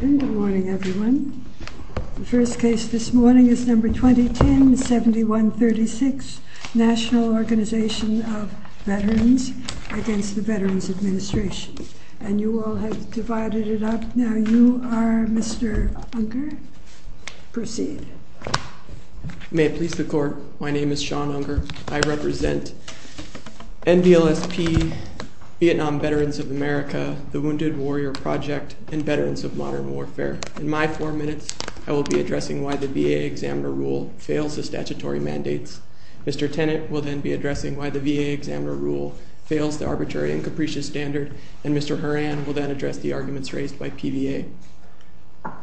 Good morning everyone. The first case this morning is number 2010-7136, National Organization of Veterans Against the Veterans Administration. And you all have divided it up. Now you are Mr. Unger. Proceed. May it please the Court, my name is Sean Unger. I represent NBLSP, Vietnam Veterans of America, the Wounded Warrior Project, and Veterans of Modern Warfare. In my four minutes, I will be addressing why the VA Examiner Rule fails the statutory mandates. Mr. Tennant will then be addressing why the VA Examiner Rule fails the arbitrary and capricious standard. And Mr. Horan will then address the arguments raised by PVA.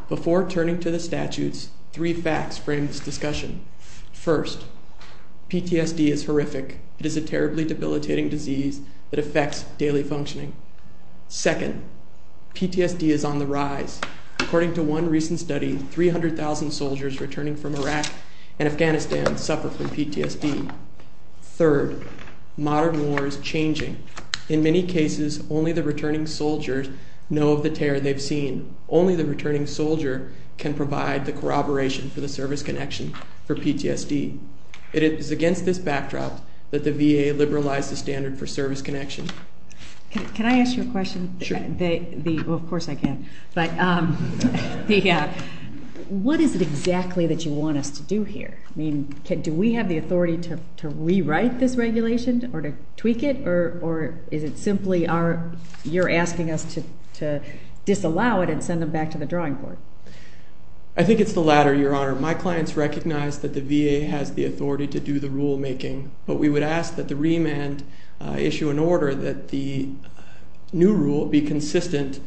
Before turning to the statutes, three facts frame this discussion. First, PTSD is horrific. It is a terribly debilitating disease that affects daily functioning. Second, PTSD is on the rise. According to one recent study, 300,000 soldiers returning from Iraq and Afghanistan suffer from PTSD. Third, modern war is changing. In many cases, only the returning soldiers know of the terror they've seen. Only the returning soldier can provide the corroboration for the service connection for PTSD. It is against this backdrop that the VA liberalized the standard for service connection. Can I ask you a question? Sure. Of course I can. What is it exactly that you want us to do here? I mean, do we have the authority to rewrite this regulation or to tweak it? Or is it simply you're asking us to disallow it and send them back to the drawing board? I think it's the latter, Your Honor. My clients recognize that the VA has the authority to do the rulemaking. But we would ask that the remand issue an order that the new rule be consistent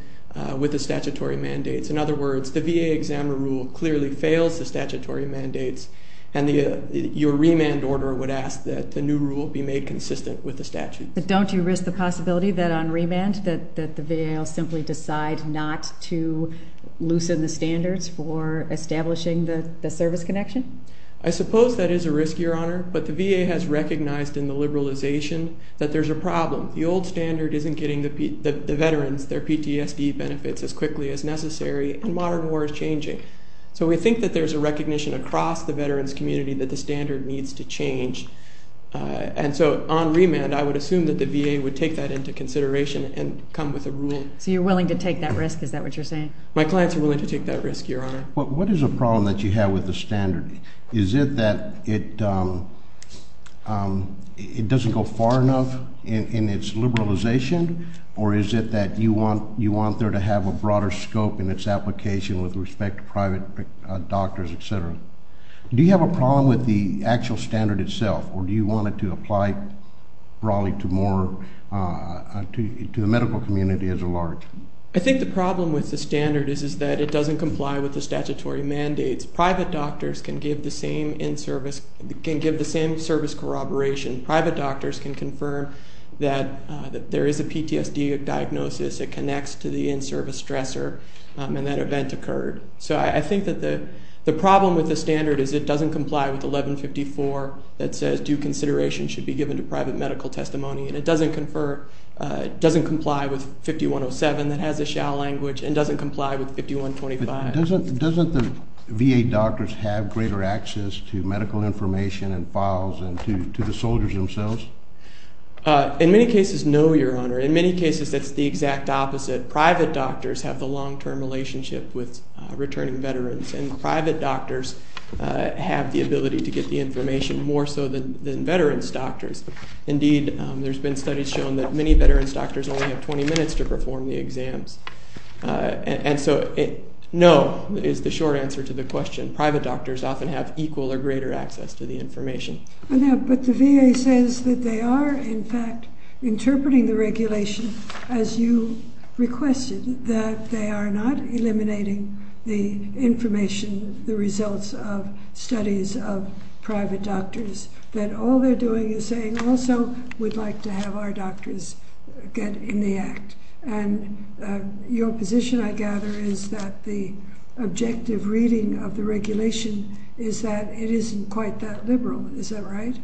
with the statutory mandates. In other words, the VA examiner rule clearly fails the statutory mandates. And your remand order would ask that the new rule be made consistent with the statute. But don't you risk the possibility that on remand that the VA will simply decide not to loosen the standards for establishing the service connection? I suppose that is a risk, Your Honor. But the VA has recognized in the liberalization that there's a problem. The old standard isn't getting the veterans their PTSD benefits as quickly as necessary. And modern war is changing. So we think that there's a recognition across the veterans community that the standard needs to change. And so on remand, I would assume that the VA would take that into consideration and come with a rule. So you're willing to take that risk? Is that what you're saying? My clients are willing to take that risk, Your Honor. What is the problem that you have with the standard? Is it that it doesn't go far enough in its liberalization? Or is it that you want there to have a broader scope in its application with respect to private doctors, et cetera? Do you have a problem with the actual standard itself? Or do you want it to apply broadly to more to the medical community as a large? I think the problem with the standard is that it doesn't comply with the statutory mandates. Private doctors can give the same service corroboration. Private doctors can confirm that there is a PTSD diagnosis that connects to the in-service stressor and that event occurred. So I think that the problem with the standard is it doesn't comply with 1154 that says due consideration should be given to private medical testimony. And it doesn't comply with 5107 that has a shall language and doesn't comply with 5125. Doesn't the VA doctors have greater access to medical information and files and to the soldiers themselves? In many cases, no, Your Honor. In many cases, that's the exact opposite. Private doctors have the long-term relationship with returning veterans, and private doctors have the ability to get the information more so than veterans' doctors. Indeed, there's been studies shown that many veterans' doctors only have 20 minutes to perform the exams. And so no is the short answer to the question. Private doctors often have equal or greater access to the information. But the VA says that they are, in fact, interpreting the regulation as you requested, that they are not eliminating the information, the results of studies of private doctors, that all they're doing is saying also we'd like to have our doctors get in the act. And your position, I gather, is that the objective reading of the regulation is that it isn't quite that liberal. Is that right?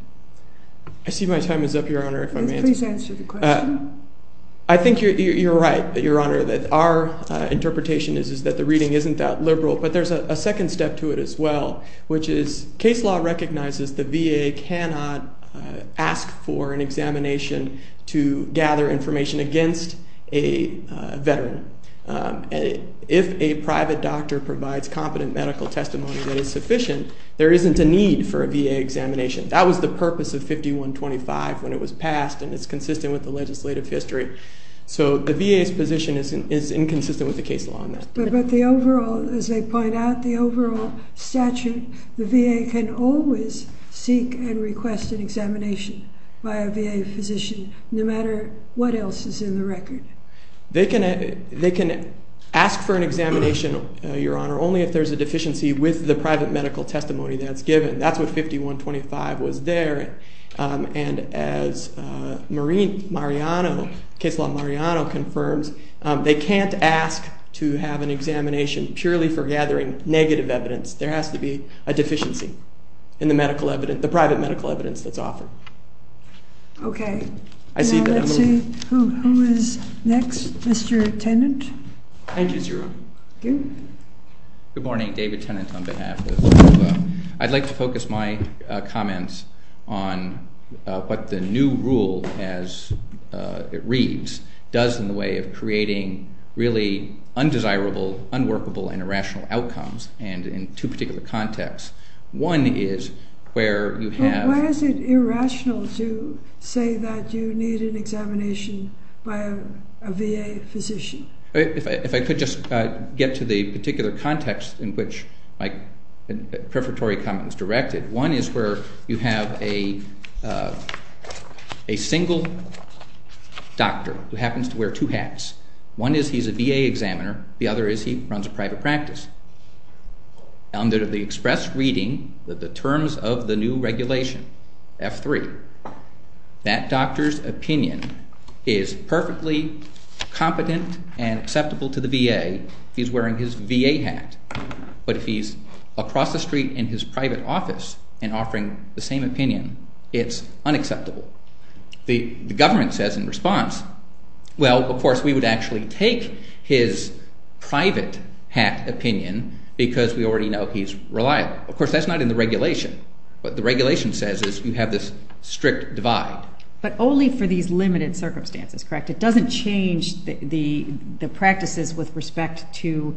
I see my time is up, Your Honor, if I may answer. Please answer the question. I think you're right, Your Honor, that our interpretation is that the reading isn't that liberal. But there's a second step to it as well, which is case law recognizes the VA cannot ask for an examination to gather information against a veteran. If a private doctor provides competent medical testimony that is sufficient, there isn't a need for a VA examination. That was the purpose of 5125 when it was passed, and it's consistent with the legislative history. So the VA's position is inconsistent with the case law on that. But the overall, as they point out, the overall statute, the VA can always seek and request an examination by a VA physician no matter what else is in the record. They can ask for an examination, Your Honor, only if there's a deficiency with the private medical testimony that's given. That's what 5125 was there. And as case law Mariano confirms, they can't ask to have an examination purely for gathering negative evidence. There has to be a deficiency in the private medical evidence that's offered. Okay. Now let's see who is next. Mr. Tennant. Thank you, Your Honor. Good morning. David Tennant on behalf of OVA. I'd like to focus my comments on what the new rule, as it reads, does in the way of creating really undesirable, unworkable, and irrational outcomes, and in two particular contexts. One is where you have- Why is it irrational to say that you need an examination by a VA physician? If I could just get to the particular context in which my prefatory comment was directed, one is where you have a single doctor who happens to wear two hats. One is he's a VA examiner. The other is he runs a private practice. Under the express reading of the terms of the new regulation, F3, that doctor's opinion is perfectly competent and acceptable to the VA if he's wearing his VA hat. But if he's across the street in his private office and offering the same opinion, it's unacceptable. The government says in response, well, of course, we would actually take his private hat opinion because we already know he's reliable. Of course, that's not in the regulation. What the regulation says is you have this strict divide. But only for these limited circumstances, correct? It doesn't change the practices with respect to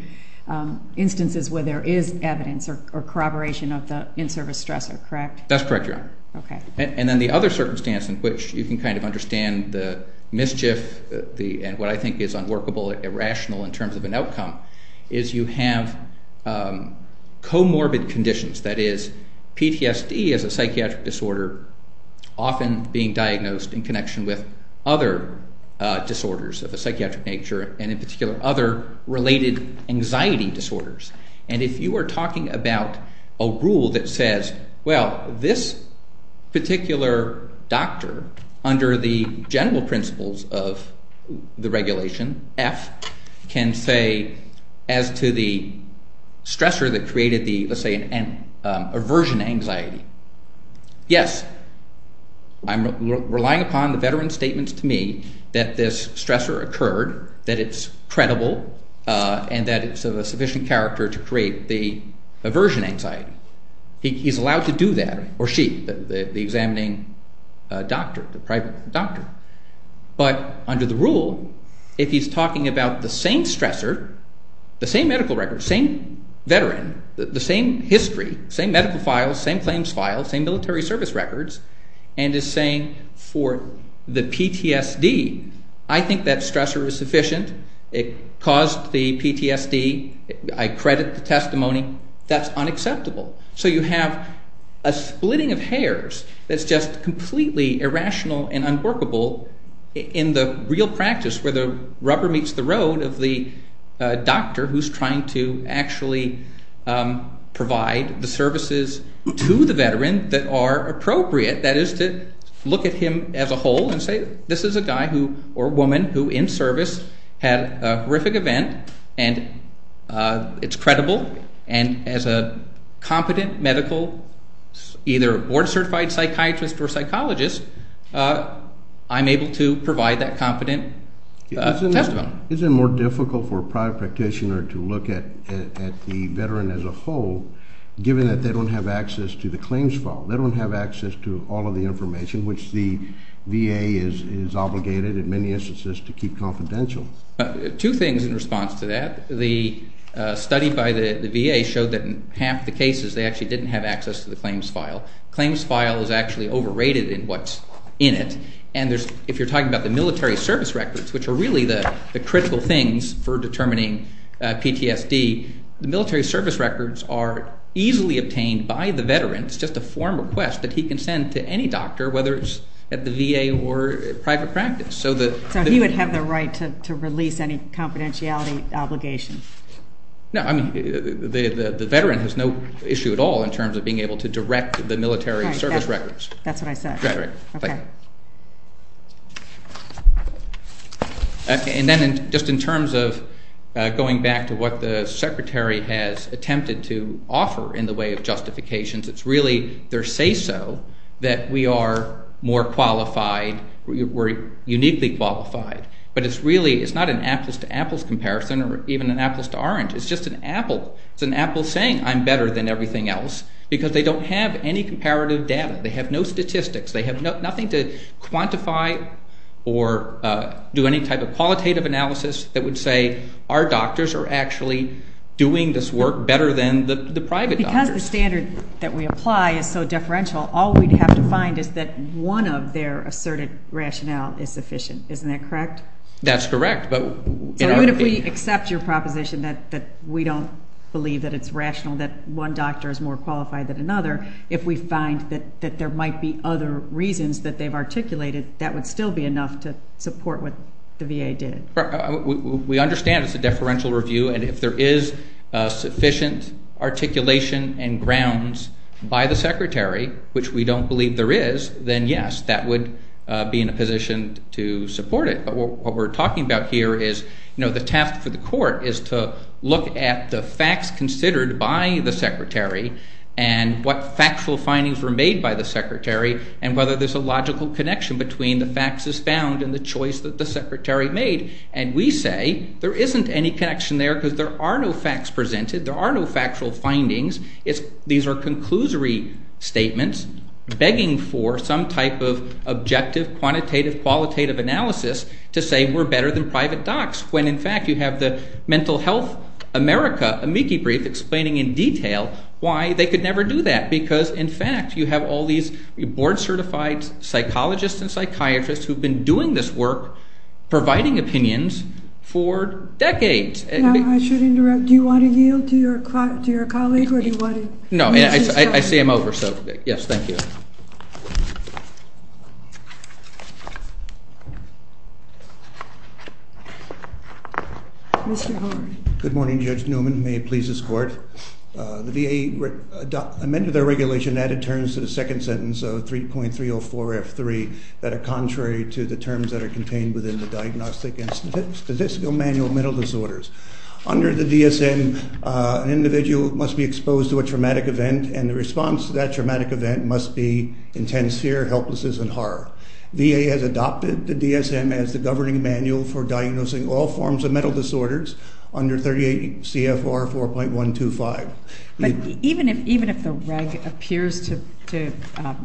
instances where there is evidence or corroboration of the in-service stressor, correct? That's correct, Your Honor. Okay. And then the other circumstance in which you can kind of understand the mischief and what I think is unworkable, irrational in terms of an outcome is you have comorbid conditions. That is, PTSD is a psychiatric disorder often being diagnosed in connection with other disorders of a psychiatric nature and in particular other related anxiety disorders. And if you are talking about a rule that says, well, this particular doctor under the general principles of the regulation, F, can say as to the stressor that created the, let's say, an aversion anxiety, yes, I'm relying upon the veteran's statements to me that this stressor occurred, that it's credible, and that it's of a sufficient character to create the aversion anxiety. He's allowed to do that, or she, the examining doctor, the private doctor. But under the rule, if he's talking about the same stressor, the same medical record, same veteran, the same history, same medical files, same claims files, same military service records, and is saying for the PTSD, I think that stressor is sufficient, it caused the PTSD, I credit the testimony, that's unacceptable. So you have a splitting of hairs that's just completely irrational and unworkable in the real practice where the rubber meets the road of the doctor who's trying to actually provide the services to the veteran that are appropriate. That is to look at him as a whole and say, this is a guy or woman who in service had a horrific event, and it's credible, and as a competent medical either board-certified psychiatrist or psychologist, I'm able to provide that competent testimony. Is it more difficult for a private practitioner to look at the veteran as a whole, given that they don't have access to the claims file? They don't have access to all of the information, which the VA is obligated in many instances to keep confidential. Two things in response to that. The study by the VA showed that in half the cases, they actually didn't have access to the claims file. Claims file is actually overrated in what's in it. And if you're talking about the military service records, which are really the critical things for determining PTSD, the military service records are easily obtained by the veteran. It's just a form of request that he can send to any doctor, whether it's at the VA or private practice. So he would have the right to release any confidentiality obligation? No, I mean, the veteran has no issue at all in terms of being able to direct the military service records. That's what I said. Right, right. Okay. And then just in terms of going back to what the Secretary has attempted to offer in the way of justifications, it's really their say-so that we are more qualified, we're uniquely qualified. But it's really, it's not an apples-to-apples comparison or even an apples-to-orange. It's just an apple. It's an apple saying I'm better than everything else because they don't have any comparative data. They have no statistics. They have nothing to quantify or do any type of qualitative analysis that would say, our doctors are actually doing this work better than the private doctors. Because the standard that we apply is so differential, all we'd have to find is that one of their asserted rationale is sufficient. Isn't that correct? That's correct. So even if we accept your proposition that we don't believe that it's rational that one doctor is more qualified than another, if we find that there might be other reasons that they've articulated, that would still be enough to support what the VA did. We understand it's a deferential review, and if there is sufficient articulation and grounds by the Secretary, which we don't believe there is, then, yes, that would be in a position to support it. The task for the court is to look at the facts considered by the Secretary and what factual findings were made by the Secretary and whether there's a logical connection between the facts as found and the choice that the Secretary made. And we say there isn't any connection there because there are no facts presented. There are no factual findings. These are conclusory statements begging for some type of objective, quantitative, qualitative analysis to say we're better than private docs, when, in fact, you have the Mental Health America amici brief explaining in detail why they could never do that, because, in fact, you have all these board-certified psychologists and psychiatrists who have been doing this work, providing opinions for decades. Now, I should interrupt. Do you want to yield to your colleague or do you want to move this forward? No, I see I'm over, so yes, thank you. Mr. Horne. Good morning, Judge Newman. May it please this Court. The VA amended their regulation and added terms to the second sentence of 3.304F3 that are contrary to the terms that are contained within the Diagnostic and Statistical Manual of Mental Disorders. Under the DSM, an individual must be exposed to a traumatic event, and the response to that traumatic event must be intense fear, helplessness, and horror. VA has adopted the DSM as the governing manual for diagnosing all forms of mental disorders under 38 CFR 4.125. But even if the reg appears to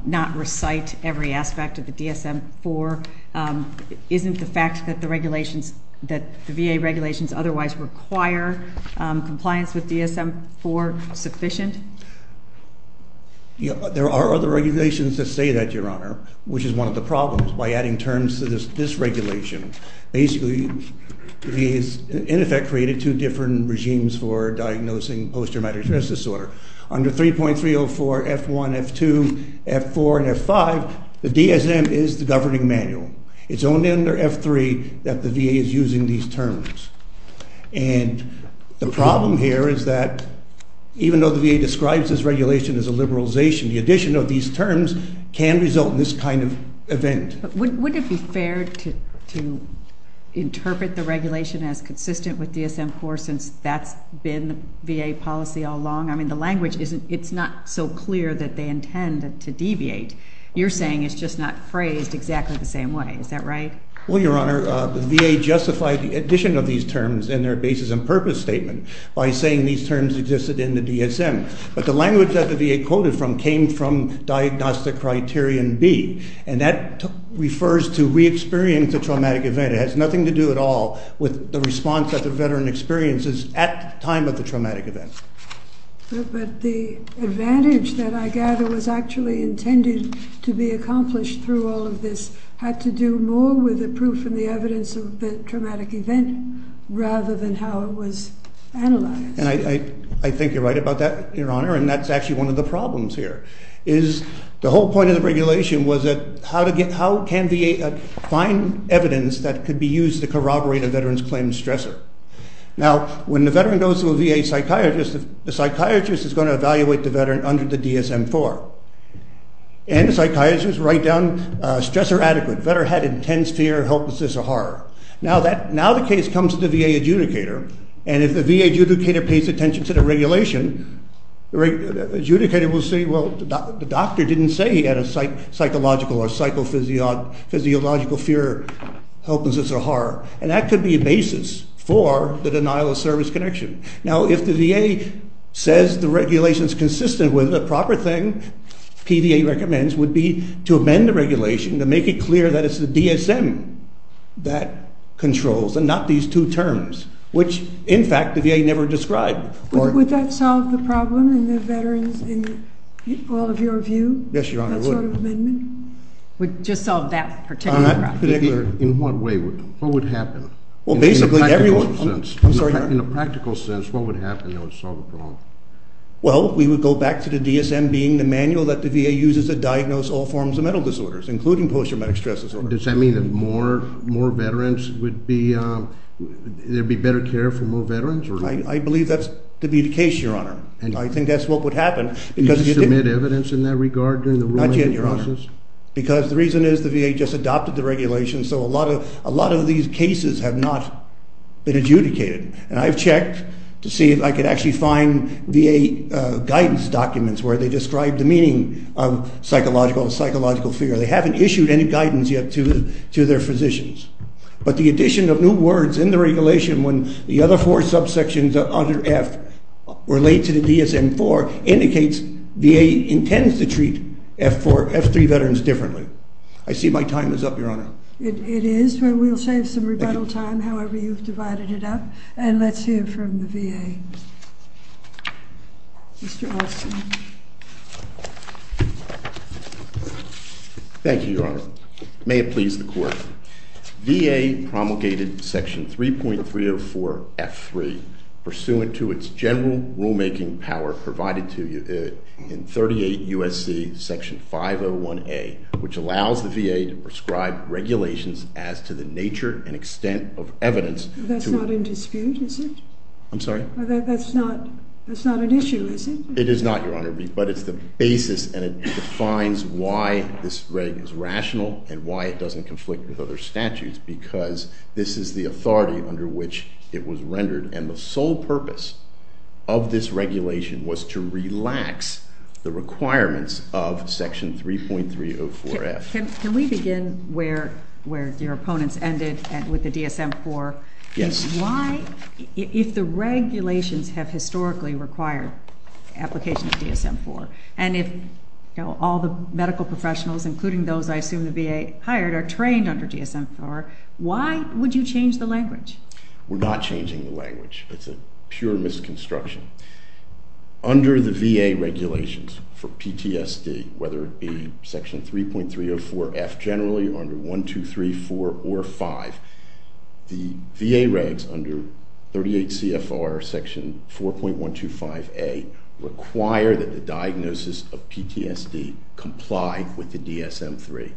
not recite every aspect of the DSM-IV, isn't the fact that the VA regulations otherwise require compliance with DSM-IV sufficient? There are other regulations that say that, Your Honor, which is one of the problems by adding terms to this regulation. Basically, the VA has, in effect, created two different regimes for diagnosing post-traumatic stress disorder. Under 3.304F1, F2, F4, and F5, the DSM is the governing manual. It's only under F3 that the VA is using these terms. And the problem here is that even though the VA describes this regulation as a liberalization, the addition of these terms can result in this kind of event. But wouldn't it be fair to interpret the regulation as consistent with DSM-IV since that's been VA policy all along? I mean, the language isn't, it's not so clear that they intend to deviate. You're saying it's just not phrased exactly the same way. Is that right? Well, Your Honor, the VA justified the addition of these terms in their basis and purpose statement by saying these terms existed in the DSM. But the language that the VA quoted from came from Diagnostic Criterion B, and that refers to re-experience a traumatic event. It has nothing to do at all with the response that the veteran experiences at the time of the traumatic event. But the advantage that I gather was actually intended to be accomplished through all of this had to do more with the proof and the evidence of the traumatic event rather than how it was analyzed. And I think you're right about that, Your Honor, and that's actually one of the problems here, is the whole point of the regulation was how can VA find evidence that could be used to corroborate a veteran's claim to stressor? Now, when the veteran goes to a VA psychiatrist, the psychiatrist is going to evaluate the veteran under the DSM-IV. And the psychiatrist writes down stressor adequate. The veteran had intense fear, helplessness, or horror. Now the case comes to the VA adjudicator, and if the VA adjudicator pays attention to the regulation, the adjudicator will say, well, the doctor didn't say he had a psychological or psychophysiological fear, helplessness, or horror. And that could be a basis for the denial of service connection. Now, if the VA says the regulation is consistent with the proper thing PVA recommends would be to amend the regulation to make it clear that it's the DSM that controls and not these two terms, which, in fact, the VA never described. Would that solve the problem in the veterans, in all of your view? Yes, Your Honor, it would. That sort of amendment? It would just solve that particular problem. In what way? What would happen? In a practical sense, what would happen that would solve the problem? Well, we would go back to the DSM being the manual that the VA uses to diagnose all forms of mental disorders, including post-traumatic stress disorder. Does that mean that there would be better care for more veterans? I believe that's to be the case, Your Honor. I think that's what would happen. Did you submit evidence in that regard during the ruling process? Not yet, Your Honor, because the reason is the VA just adopted the regulation, so a lot of these cases have not been adjudicated. And I've checked to see if I could actually find VA guidance documents where they describe the meaning of psychological and psychological fear. They haven't issued any guidance yet to their physicians. But the addition of new words in the regulation when the other four subsections under F relate to the DSM-IV indicates VA intends to treat F-3 veterans differently. I see my time is up, Your Honor. It is, but we'll save some rebuttal time, however you've divided it up. And let's hear from the VA. Mr. Olson. Thank you, Your Honor. May it please the Court. VA promulgated Section 3.304 F-3, pursuant to its general rulemaking power provided to you in 38 U.S.C. Section 501A, which allows the VA to prescribe regulations as to the nature and extent of evidence. That's not in dispute, is it? I'm sorry? That's not an issue, is it? It is not, Your Honor, but it's the basis, and it defines why this regulation is rational and why it doesn't conflict with other statutes, because this is the authority under which it was rendered, and the sole purpose of this regulation was to relax the requirements of Section 3.304 F. Can we begin where your opponents ended with the DSM-IV? Yes. Why, if the regulations have historically required application of DSM-IV, and if all the medical professionals, including those I assume the VA hired, are trained under DSM-IV, why would you change the language? We're not changing the language. It's a pure misconstruction. Under the VA regulations for PTSD, whether it be Section 3.304 F generally under 1234 or 5, the VA regs under 38 CFR Section 4.125A require that the diagnosis of PTSD comply with the DSM-III.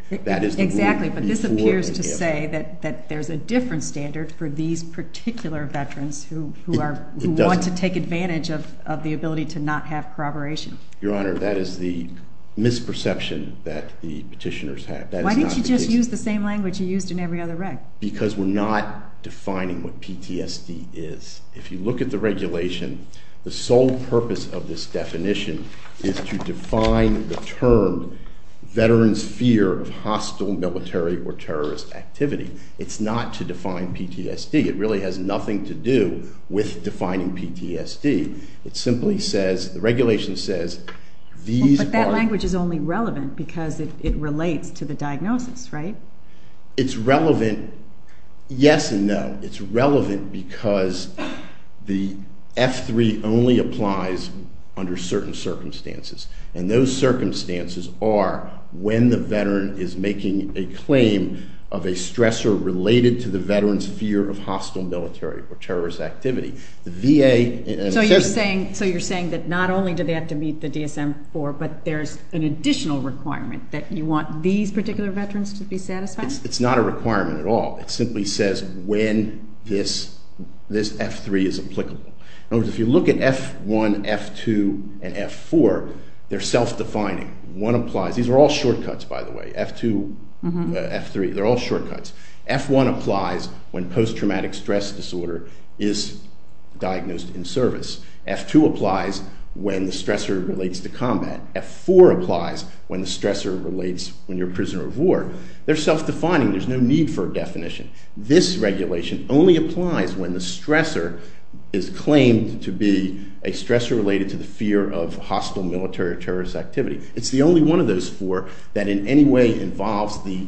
Exactly, but this appears to say that there's a different standard for these particular veterans who want to take advantage of the ability to not have corroboration. Your Honor, that is the misperception that the petitioners have. Why didn't you just use the same language you used in every other reg? Because we're not defining what PTSD is. If you look at the regulation, the sole purpose of this definition is to define the term veterans' fear of hostile military or terrorist activity. It's not to define PTSD. It really has nothing to do with defining PTSD. It simply says, the regulation says these are- But that language is only relevant because it relates to the diagnosis, right? It's relevant, yes and no. It's relevant because the F3 only applies under certain circumstances, and those circumstances are when the veteran is making a claim of a stressor related to the veteran's fear of hostile military or terrorist activity. The VA- So you're saying that not only do they have to meet the DSM-IV, but there's an additional requirement that you want these particular veterans to be satisfied? It's not a requirement at all. It simply says when this F3 is applicable. If you look at F1, F2, and F4, they're self-defining. One applies-These are all shortcuts, by the way. F2, F3, they're all shortcuts. F1 applies when post-traumatic stress disorder is diagnosed in service. F2 applies when the stressor relates to combat. F4 applies when the stressor relates when you're a prisoner of war. They're self-defining. There's no need for a definition. This regulation only applies when the stressor is claimed to be a stressor related to the fear of hostile military or terrorist activity. It's the only one of those four that in any way involves the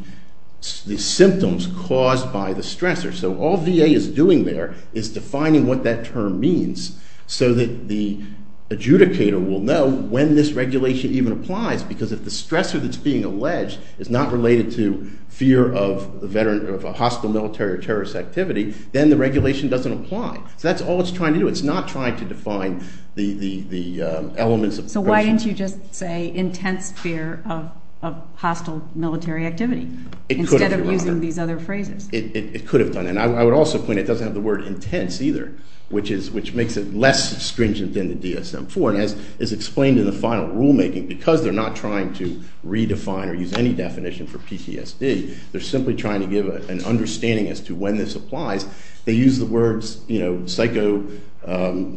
symptoms caused by the stressor. So all VA is doing there is defining what that term means so that the adjudicator will know when this regulation even applies because if the stressor that's being alleged is not related to fear of a hostile military or terrorist activity, then the regulation doesn't apply. So that's all it's trying to do. It's not trying to define the elements of pressure. So why didn't you just say intense fear of hostile military activity instead of using these other phrases? It could have done that. And I would also point out it doesn't have the word intense either, which makes it less stringent than the DSM-IV. And as is explained in the final rulemaking, because they're not trying to redefine or use any definition for PTSD, they're simply trying to give an understanding as to when this applies. They use the words psychophysiological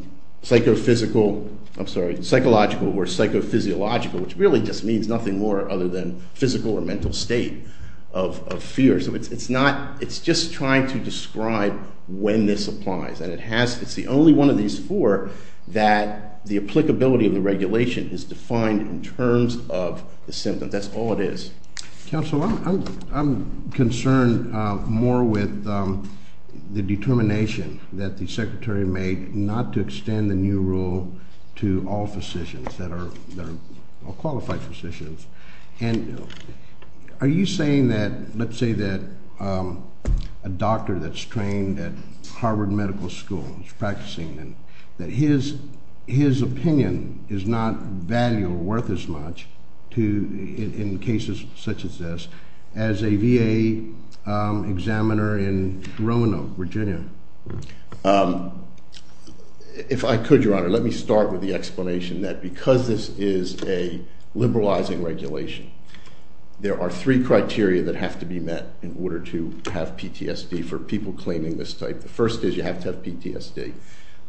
or psychophysiological, which really just means nothing more other than physical or mental state of fear. So it's just trying to describe when this applies. And it's the only one of these four that the applicability of the regulation is defined in terms of the symptom. That's all it is. Counsel, I'm concerned more with the determination that the secretary made not to extend the new rule to all physicians, that are all qualified physicians. And are you saying that let's say that a doctor that's trained at Harvard Medical School is practicing and that his opinion is not valuable or worth as much in cases such as this as a VA examiner in Roanoke, Virginia? If I could, Your Honor, let me start with the explanation that because this is a liberalizing regulation, there are three criteria that have to be met in order to have PTSD for people claiming this type. The first is you have to have PTSD.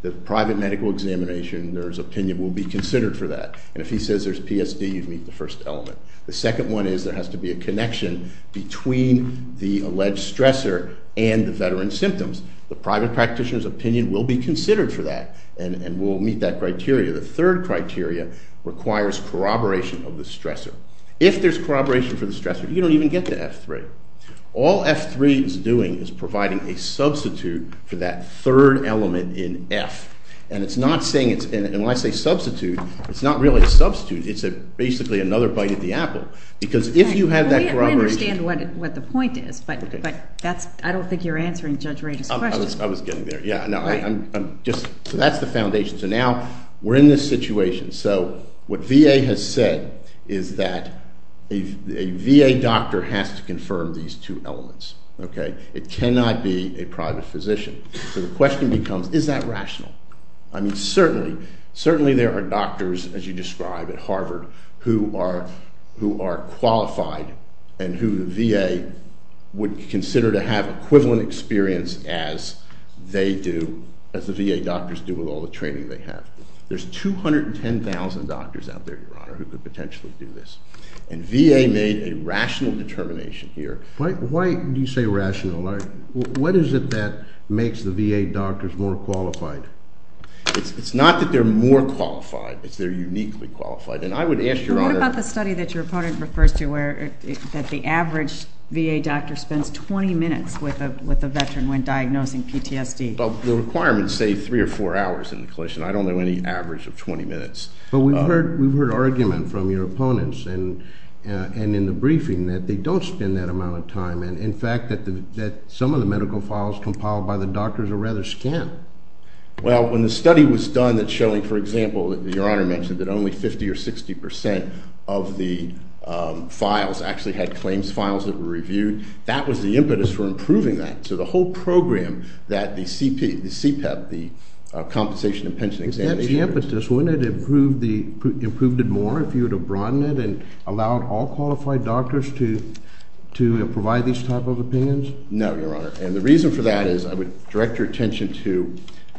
The private medical examination nurse opinion will be considered for that. And if he says there's PTSD, you'd meet the first element. The second one is there has to be a connection between the alleged stressor and the veteran's symptoms. The private practitioner's opinion will be considered for that and will meet that criteria. The third criteria requires corroboration of the stressor. If there's corroboration for the stressor, you don't even get the F3. All F3 is doing is providing a substitute for that third element in F. And it's not saying it's – and when I say substitute, it's not really a substitute. It's basically another bite at the apple because if you have that corroboration. I don't understand what the point is, but that's – I don't think you're answering Judge Ray's question. I was getting there. Yeah, no, I'm just – so that's the foundation. So now we're in this situation. So what VA has said is that a VA doctor has to confirm these two elements. It cannot be a private physician. So the question becomes is that rational? I mean certainly there are doctors, as you describe, at Harvard who are qualified and who the VA would consider to have equivalent experience as they do, as the VA doctors do with all the training they have. There's 210,000 doctors out there, Your Honor, who could potentially do this. And VA made a rational determination here. Why do you say rational? What is it that makes the VA doctors more qualified? It's not that they're more qualified. It's they're uniquely qualified. And I would ask Your Honor – What about the study that your opponent refers to where – that the average VA doctor spends 20 minutes with a veteran when diagnosing PTSD? Well, the requirements say three or four hours in the clinician. I don't know any average of 20 minutes. But we've heard argument from your opponents and in the briefing that they don't spend that amount of time. And, in fact, that some of the medical files compiled by the doctors are rather scant. Well, when the study was done that's showing, for example, that Your Honor mentioned that only 50% or 60% of the files actually had claims files that were reviewed, that was the impetus for improving that. So the whole program that the CPEP, the Compensation and Pension Examination – That's the impetus. Wouldn't it have improved it more if you would have broadened it and allowed all qualified doctors to provide these type of opinions? No, Your Honor. And the reason for that is I would direct your attention to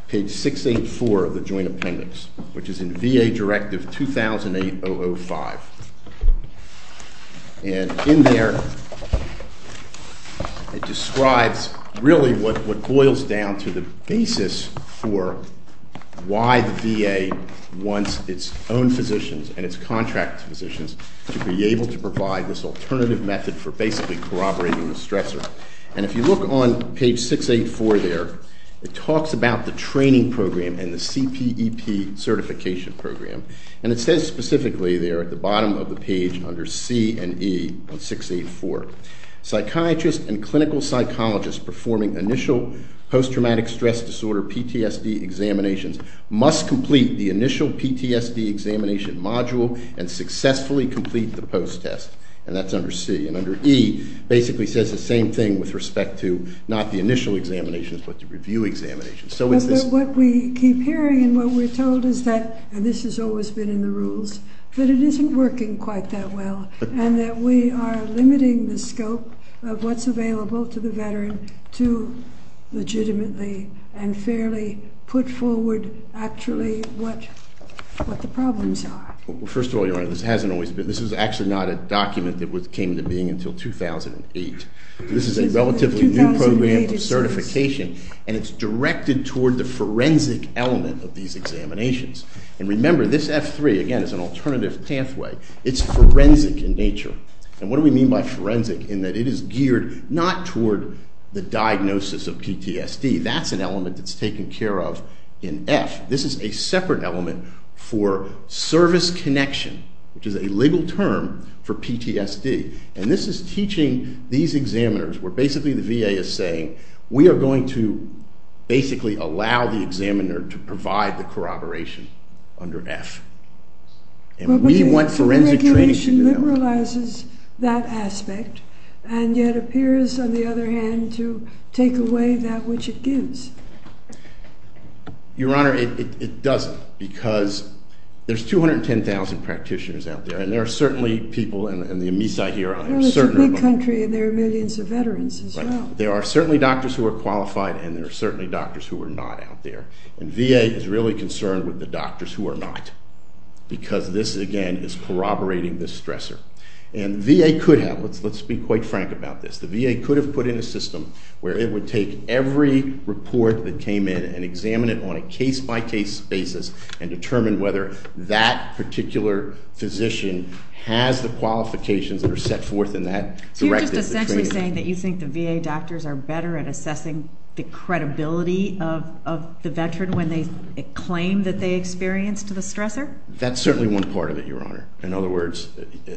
page 684 of the Joint Appendix, which is in VA Directive 2008-005. And in there it describes really what boils down to the basis for why the VA wants its own physicians and its contract physicians to be able to provide this alternative method for basically corroborating the stressor. And if you look on page 684 there, it talks about the training program and the CPEP certification program. And it says specifically there at the bottom of the page under C and E on 684, Psychiatrists and clinical psychologists performing initial post-traumatic stress disorder PTSD examinations must complete the initial PTSD examination module and successfully complete the post-test. And that's under C. And under E basically says the same thing with respect to not the initial examinations but the review examinations. But what we keep hearing and what we're told is that – and this has always been in the rules – that it isn't working quite that well and that we are limiting the scope of what's available to the veteran to legitimately and fairly put forward actually what the problems are. First of all, Your Honor, this is actually not a document that came into being until 2008. This is a relatively new program of certification and it's directed toward the forensic element of these examinations. And remember, this F3, again, is an alternative pathway. It's forensic in nature. And what do we mean by forensic in that it is geared not toward the diagnosis of PTSD. That's an element that's taken care of in F. This is a separate element for service connection, which is a legal term for PTSD. And this is teaching these examiners where basically the VA is saying, we are going to basically allow the examiner to provide the corroboration under F. And we want forensic training to do that. But the regulation liberalizes that aspect and yet appears, on the other hand, to take away that which it gives. Your Honor, it doesn't because there's 210,000 practitioners out there, and there are certainly people – and the amnesia here – Well, it's a big country and there are millions of veterans as well. There are certainly doctors who are qualified and there are certainly doctors who are not out there. And VA is really concerned with the doctors who are not because this, again, is corroborating the stressor. And VA could have – let's be quite frank about this. The VA could have put in a system where it would take every report that came in and examine it on a case-by-case basis and determine whether that particular physician has the qualifications that are set forth in that directive. So you're just essentially saying that you think the VA doctors are better at assessing the credibility of the veteran when they claim that they experienced the stressor? That's certainly one part of it, Your Honor. In other words,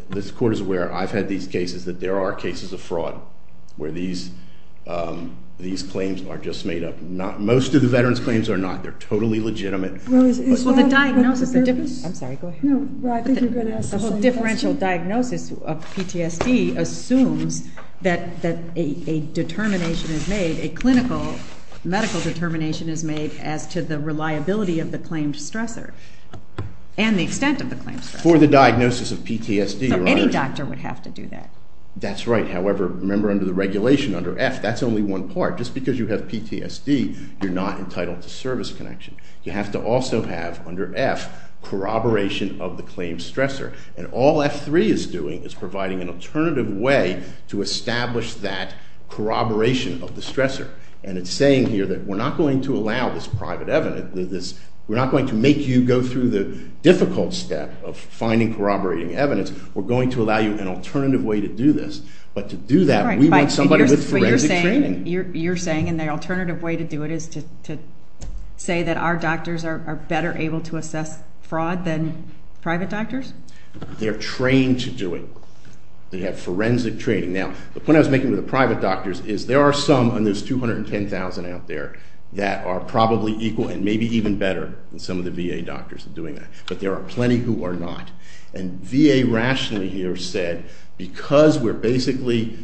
this Court is aware. I've had these cases that there are cases of fraud where these claims are just made up. Most of the veterans' claims are not. They're totally legitimate. Well, the diagnosis – I'm sorry, go ahead. The whole differential diagnosis of PTSD assumes that a determination is made, a clinical medical determination is made as to the reliability of the claimed stressor and the extent of the claimed stressor. For the diagnosis of PTSD, Your Honor. So any doctor would have to do that. That's right. However, remember under the regulation, under F, that's only one part. Just because you have PTSD, you're not entitled to service connection. You have to also have, under F, corroboration of the claimed stressor. And all F3 is doing is providing an alternative way to establish that corroboration of the stressor. And it's saying here that we're not going to allow this private evidence, we're not going to make you go through the difficult step of finding corroborating evidence. We're going to allow you an alternative way to do this. But to do that, we want somebody with forensic training. You're saying an alternative way to do it is to say that our doctors are better able to assess fraud than private doctors? They're trained to do it. They have forensic training. Now, the point I was making with the private doctors is there are some, and there's 210,000 out there, that are probably equal and maybe even better than some of the VA doctors doing that. But there are plenty who are not. And VA rationally here said because we're basically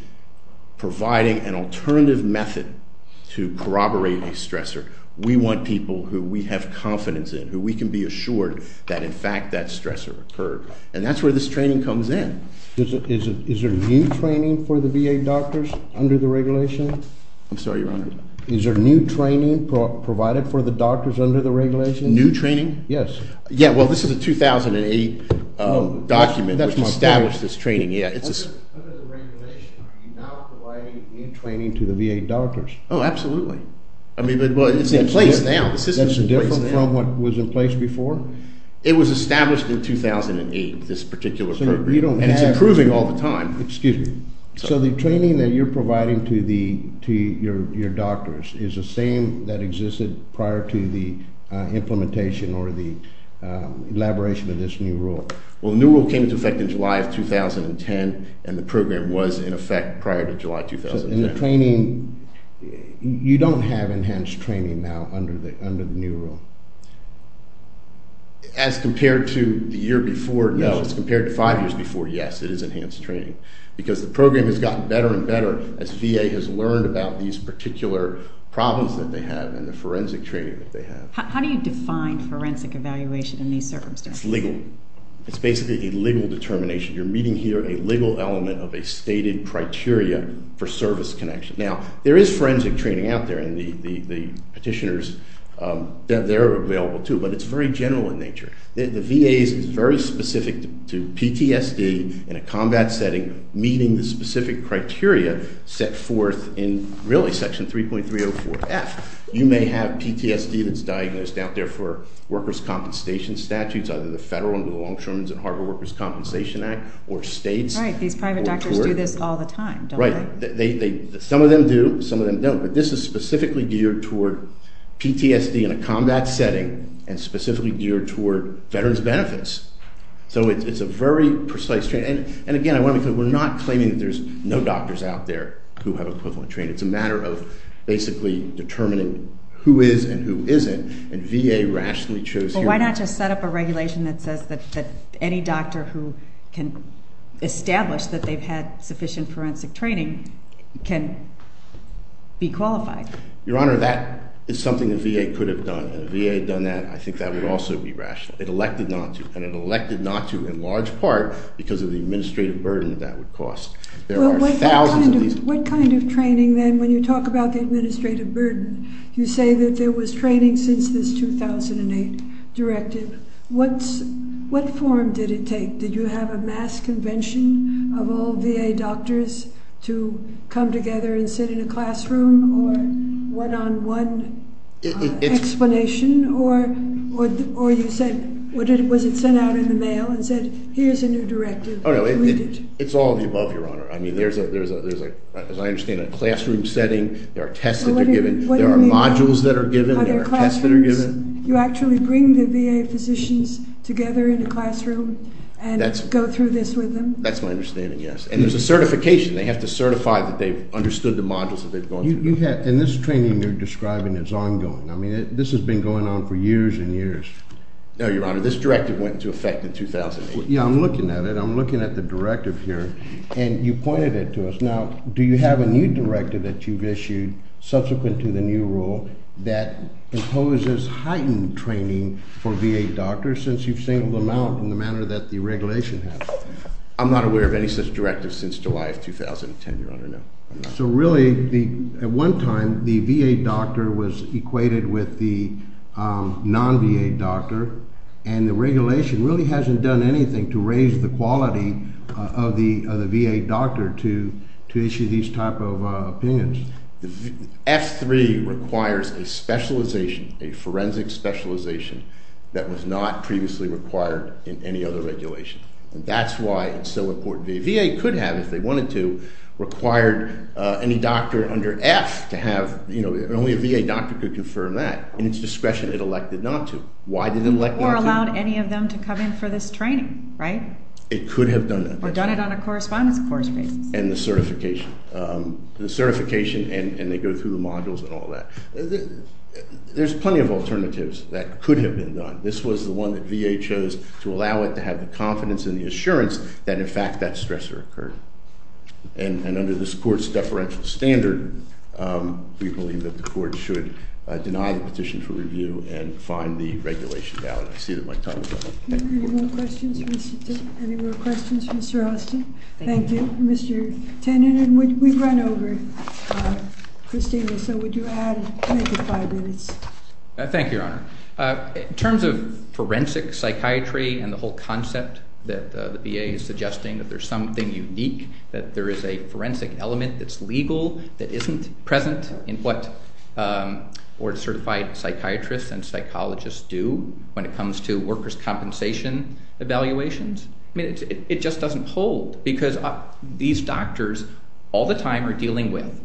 providing an alternative method to corroborate a stressor, we want people who we have confidence in, who we can be assured that, in fact, that stressor occurred. And that's where this training comes in. Is there new training for the VA doctors under the regulation? I'm sorry, Your Honor? Is there new training provided for the doctors under the regulation? New training? Yes. Yeah, well, this is a 2008 document which established this training. Under the regulation, are you now providing new training to the VA doctors? Oh, absolutely. I mean, it's in place now. That's different from what was in place before? It was established in 2008, this particular program, and it's improving all the time. Excuse me. So the training that you're providing to your doctors is the same that existed prior to the implementation or the elaboration of this new rule? Well, the new rule came into effect in July of 2010, and the program was in effect prior to July 2010. So in the training, you don't have enhanced training now under the new rule? As compared to the year before, no. As compared to five years before, yes, it is enhanced training because the program has gotten better and better as VA has learned about these particular problems that they have and the forensic training that they have. How do you define forensic evaluation in these circumstances? It's legal. It's basically a legal determination. You're meeting here a legal element of a stated criteria for service connection. Now, there is forensic training out there, and the petitioners, they're available too, but it's very general in nature. The VA is very specific to PTSD in a combat setting, meeting the specific criteria set forth in, really, Section 3.304F. You may have PTSD that's diagnosed out there for workers' compensation statutes, either the federal under the Longshoremen's and Harbor Workers' Compensation Act or states. Right. These private doctors do this all the time, don't they? Right. Some of them do. Some of them don't. But this is specifically geared toward PTSD in a combat setting and specifically geared toward veterans' benefits. So it's a very precise training. And again, we're not claiming that there's no doctors out there who have equivalent training. It's a matter of basically determining who is and who isn't, and VA rationally chose here. Why not just set up a regulation that says that any doctor who can establish that they've had sufficient forensic training can be qualified? Your Honor, that is something the VA could have done, and if the VA had done that, I think that would also be rational. It elected not to, and it elected not to in large part because of the administrative burden that would cost. There are thousands of these. What kind of training then, when you talk about the administrative burden, you say that there was training since this 2008 directive. What form did it take? Did you have a mass convention of all VA doctors to come together and sit in a classroom or one-on-one explanation? Or you said, was it sent out in the mail and said, here's a new directive, read it? I mean, there's, as I understand it, a classroom setting. There are tests that are given. There are modules that are given. There are tests that are given. Are there classrooms? You actually bring the VA physicians together in a classroom and go through this with them? That's my understanding, yes. And there's a certification. They have to certify that they've understood the modules that they've gone through. And this training you're describing is ongoing. I mean, this has been going on for years and years. No, Your Honor. This directive went into effect in 2008. Yeah, I'm looking at it. And you pointed it to us. Now, do you have a new directive that you've issued subsequent to the new rule that imposes heightened training for VA doctors since you've singled them out in the manner that the regulation has? I'm not aware of any such directive since July of 2010, Your Honor, no. So really, at one time, the VA doctor was equated with the non-VA doctor, and the regulation really hasn't done anything to raise the quality of the VA doctor to issue these type of opinions. F3 requires a specialization, a forensic specialization, that was not previously required in any other regulation. And that's why it's so important. The VA could have, if they wanted to, required any doctor under F to have, you know, only a VA doctor could confirm that. In its discretion, it elected not to. Why did it elect not to? Or allowed any of them to come in for this training, right? It could have done that. Or done it on a correspondence course basis. And the certification. The certification and they go through the modules and all that. There's plenty of alternatives that could have been done. This was the one that VA chose to allow it to have the confidence and the assurance that, in fact, that stressor occurred. And under this court's deferential standard, we believe that the court should deny the petition for review and find the regulation valid. I see that my time is up. Thank you. Any more questions for Mr. Austin? Thank you. Thank you, Mr. Tennant. And we've run over, Christina, so would you add maybe five minutes? Thank you, Your Honor. In terms of forensic psychiatry and the whole concept that the VA is suggesting, that there's something unique, that there is a forensic element that's legal, that isn't present in what board-certified psychiatrists and psychologists do when it comes to workers' compensation evaluations. I mean, it just doesn't hold because these doctors all the time are dealing with,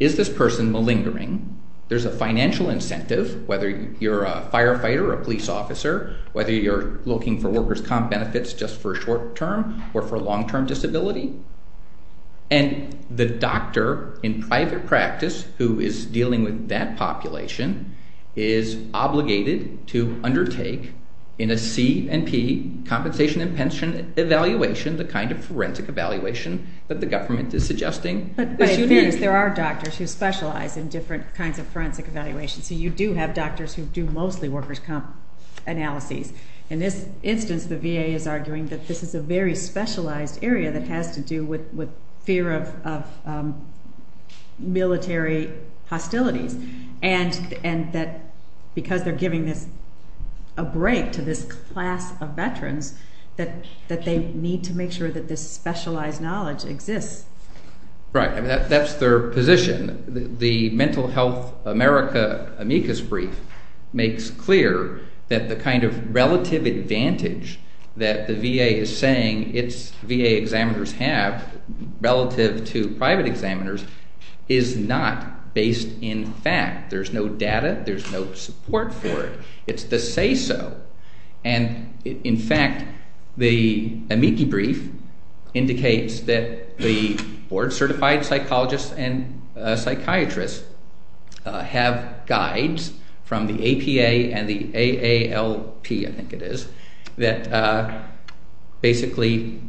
is this person malingering? There's a financial incentive, whether you're a firefighter or a police officer, whether you're looking for workers' comp benefits just for short-term or for long-term disability. And the doctor in private practice who is dealing with that population is obligated to undertake, in a C&P, compensation and pension evaluation, the kind of forensic evaluation that the government is suggesting. But by fairness, there are doctors who specialize in different kinds of forensic evaluations. So you do have doctors who do mostly workers' comp analyses. In this instance, the VA is arguing that this is a very specialized area that has to do with fear of military hostilities. And that because they're giving this, a break to this class of veterans, that they need to make sure that this specialized knowledge exists. Right. That's their position. The Mental Health America amicus brief makes clear that the kind of relative advantage that the VA is saying its VA examiners have relative to private examiners is not based in fact. There's no data. There's no support for it. It's the say-so. And in fact, the amicus brief indicates that the board-certified psychologists and psychiatrists have guides from the APA and the AALP, I think it is, that basically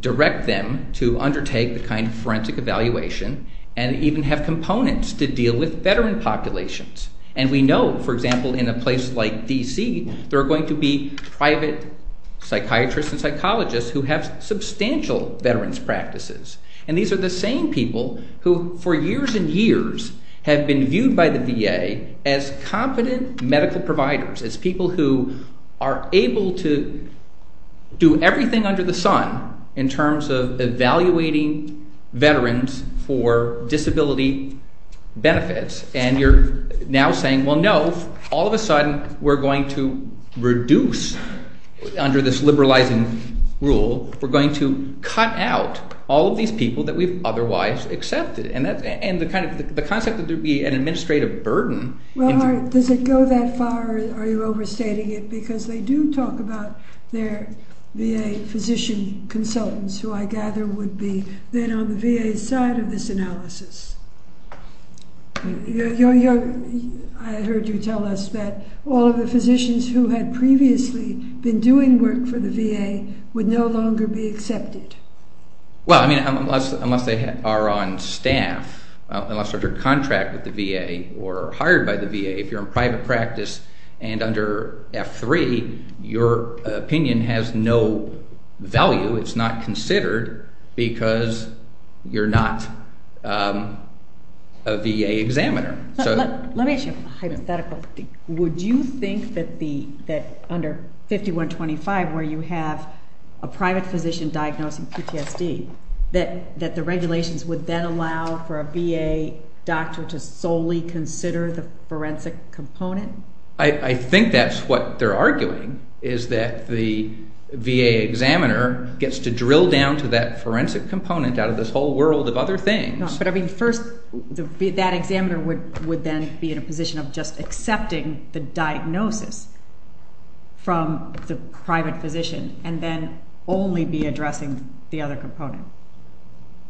direct them to undertake the kind of forensic evaluation and even have components to deal with veteran populations. And we know, for example, in a place like D.C., there are going to be private psychiatrists and psychologists who have substantial veterans' practices. And these are the same people who for years and years have been viewed by the VA as competent medical providers, as people who are able to do everything under the sun in terms of evaluating veterans for disability benefits. And you're now saying, well, no, all of a sudden we're going to reduce under this liberalizing rule, we're going to cut out all of these people that we've otherwise accepted. And the concept that there would be an administrative burden. Well, does it go that far or are you overstating it? Because they do talk about their VA physician consultants who I gather would be then on the VA's side of this analysis. I heard you tell us that all of the physicians who had previously been doing work for the VA would no longer be accepted. Well, I mean, unless they are on staff, unless they're contracted with the VA or hired by the VA, if you're in private practice and under F3, your opinion has no value. It's not considered because you're not a VA examiner. Let me ask you a hypothetical. Would you think that under 5125, where you have a private physician diagnosing PTSD, that the regulations would then allow for a VA doctor to solely consider the forensic component? I think that's what they're arguing, is that the VA examiner gets to drill down to that forensic component out of this whole world of other things. But I mean, first, that examiner would then be in a position of just accepting the diagnosis from the private physician and then only be addressing the other component.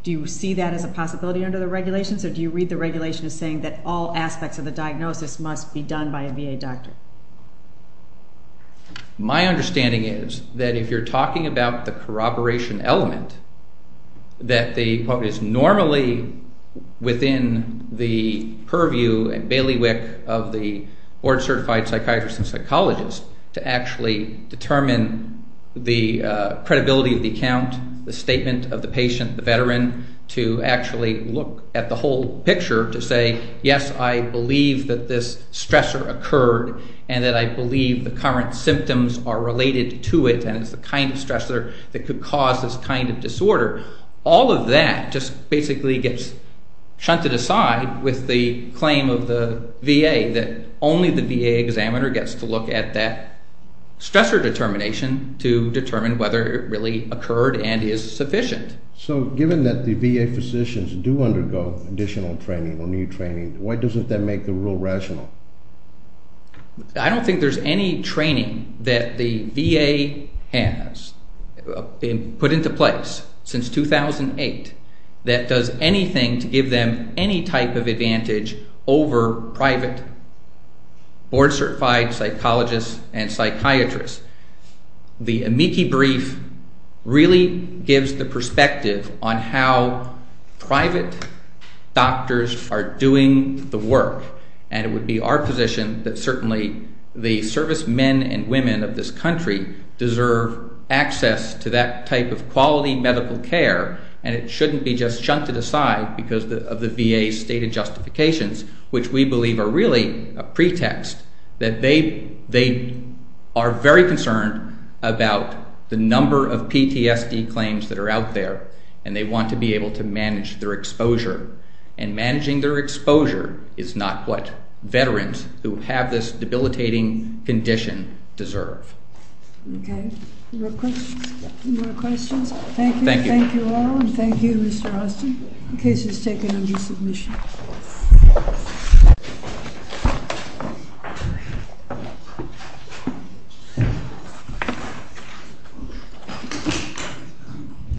Do you see that as a possibility under the regulations or do you read the regulation as saying that all aspects of the diagnosis must be done by a VA doctor? My understanding is that if you're talking about the corroboration element, that what is normally within the purview and bailiwick of the board-certified psychiatrist and psychologist to actually determine the credibility of the account, the statement of the patient, the veteran, to actually look at the whole picture to say, yes, I believe that this stressor occurred and that I believe the current symptoms are related to it and it's the kind of stressor that could cause this kind of disorder. All of that just basically gets shunted aside with the claim of the VA that only the VA examiner gets to look at that stressor determination to determine whether it really occurred and is sufficient. So given that the VA physicians do undergo additional training or new training, why doesn't that make the rule rational? I don't think there's any training that the VA has put into place since 2008 that does anything to give them any type of advantage over private board-certified psychologists and psychiatrists. The amici brief really gives the perspective on how private doctors are doing the work and it would be our position that certainly the servicemen and women of this country deserve access to that type of quality medical care and it shouldn't be just shunted aside because of the VA's stated justifications, which we believe are really a pretext that they are very concerned about the number of PTSD claims that are out there and they want to be able to manage their exposure and managing their exposure is not what veterans who have this debilitating condition deserve. Okay, any more questions? Thank you. Thank you all and thank you Mr. Austin. The case is taken into submission.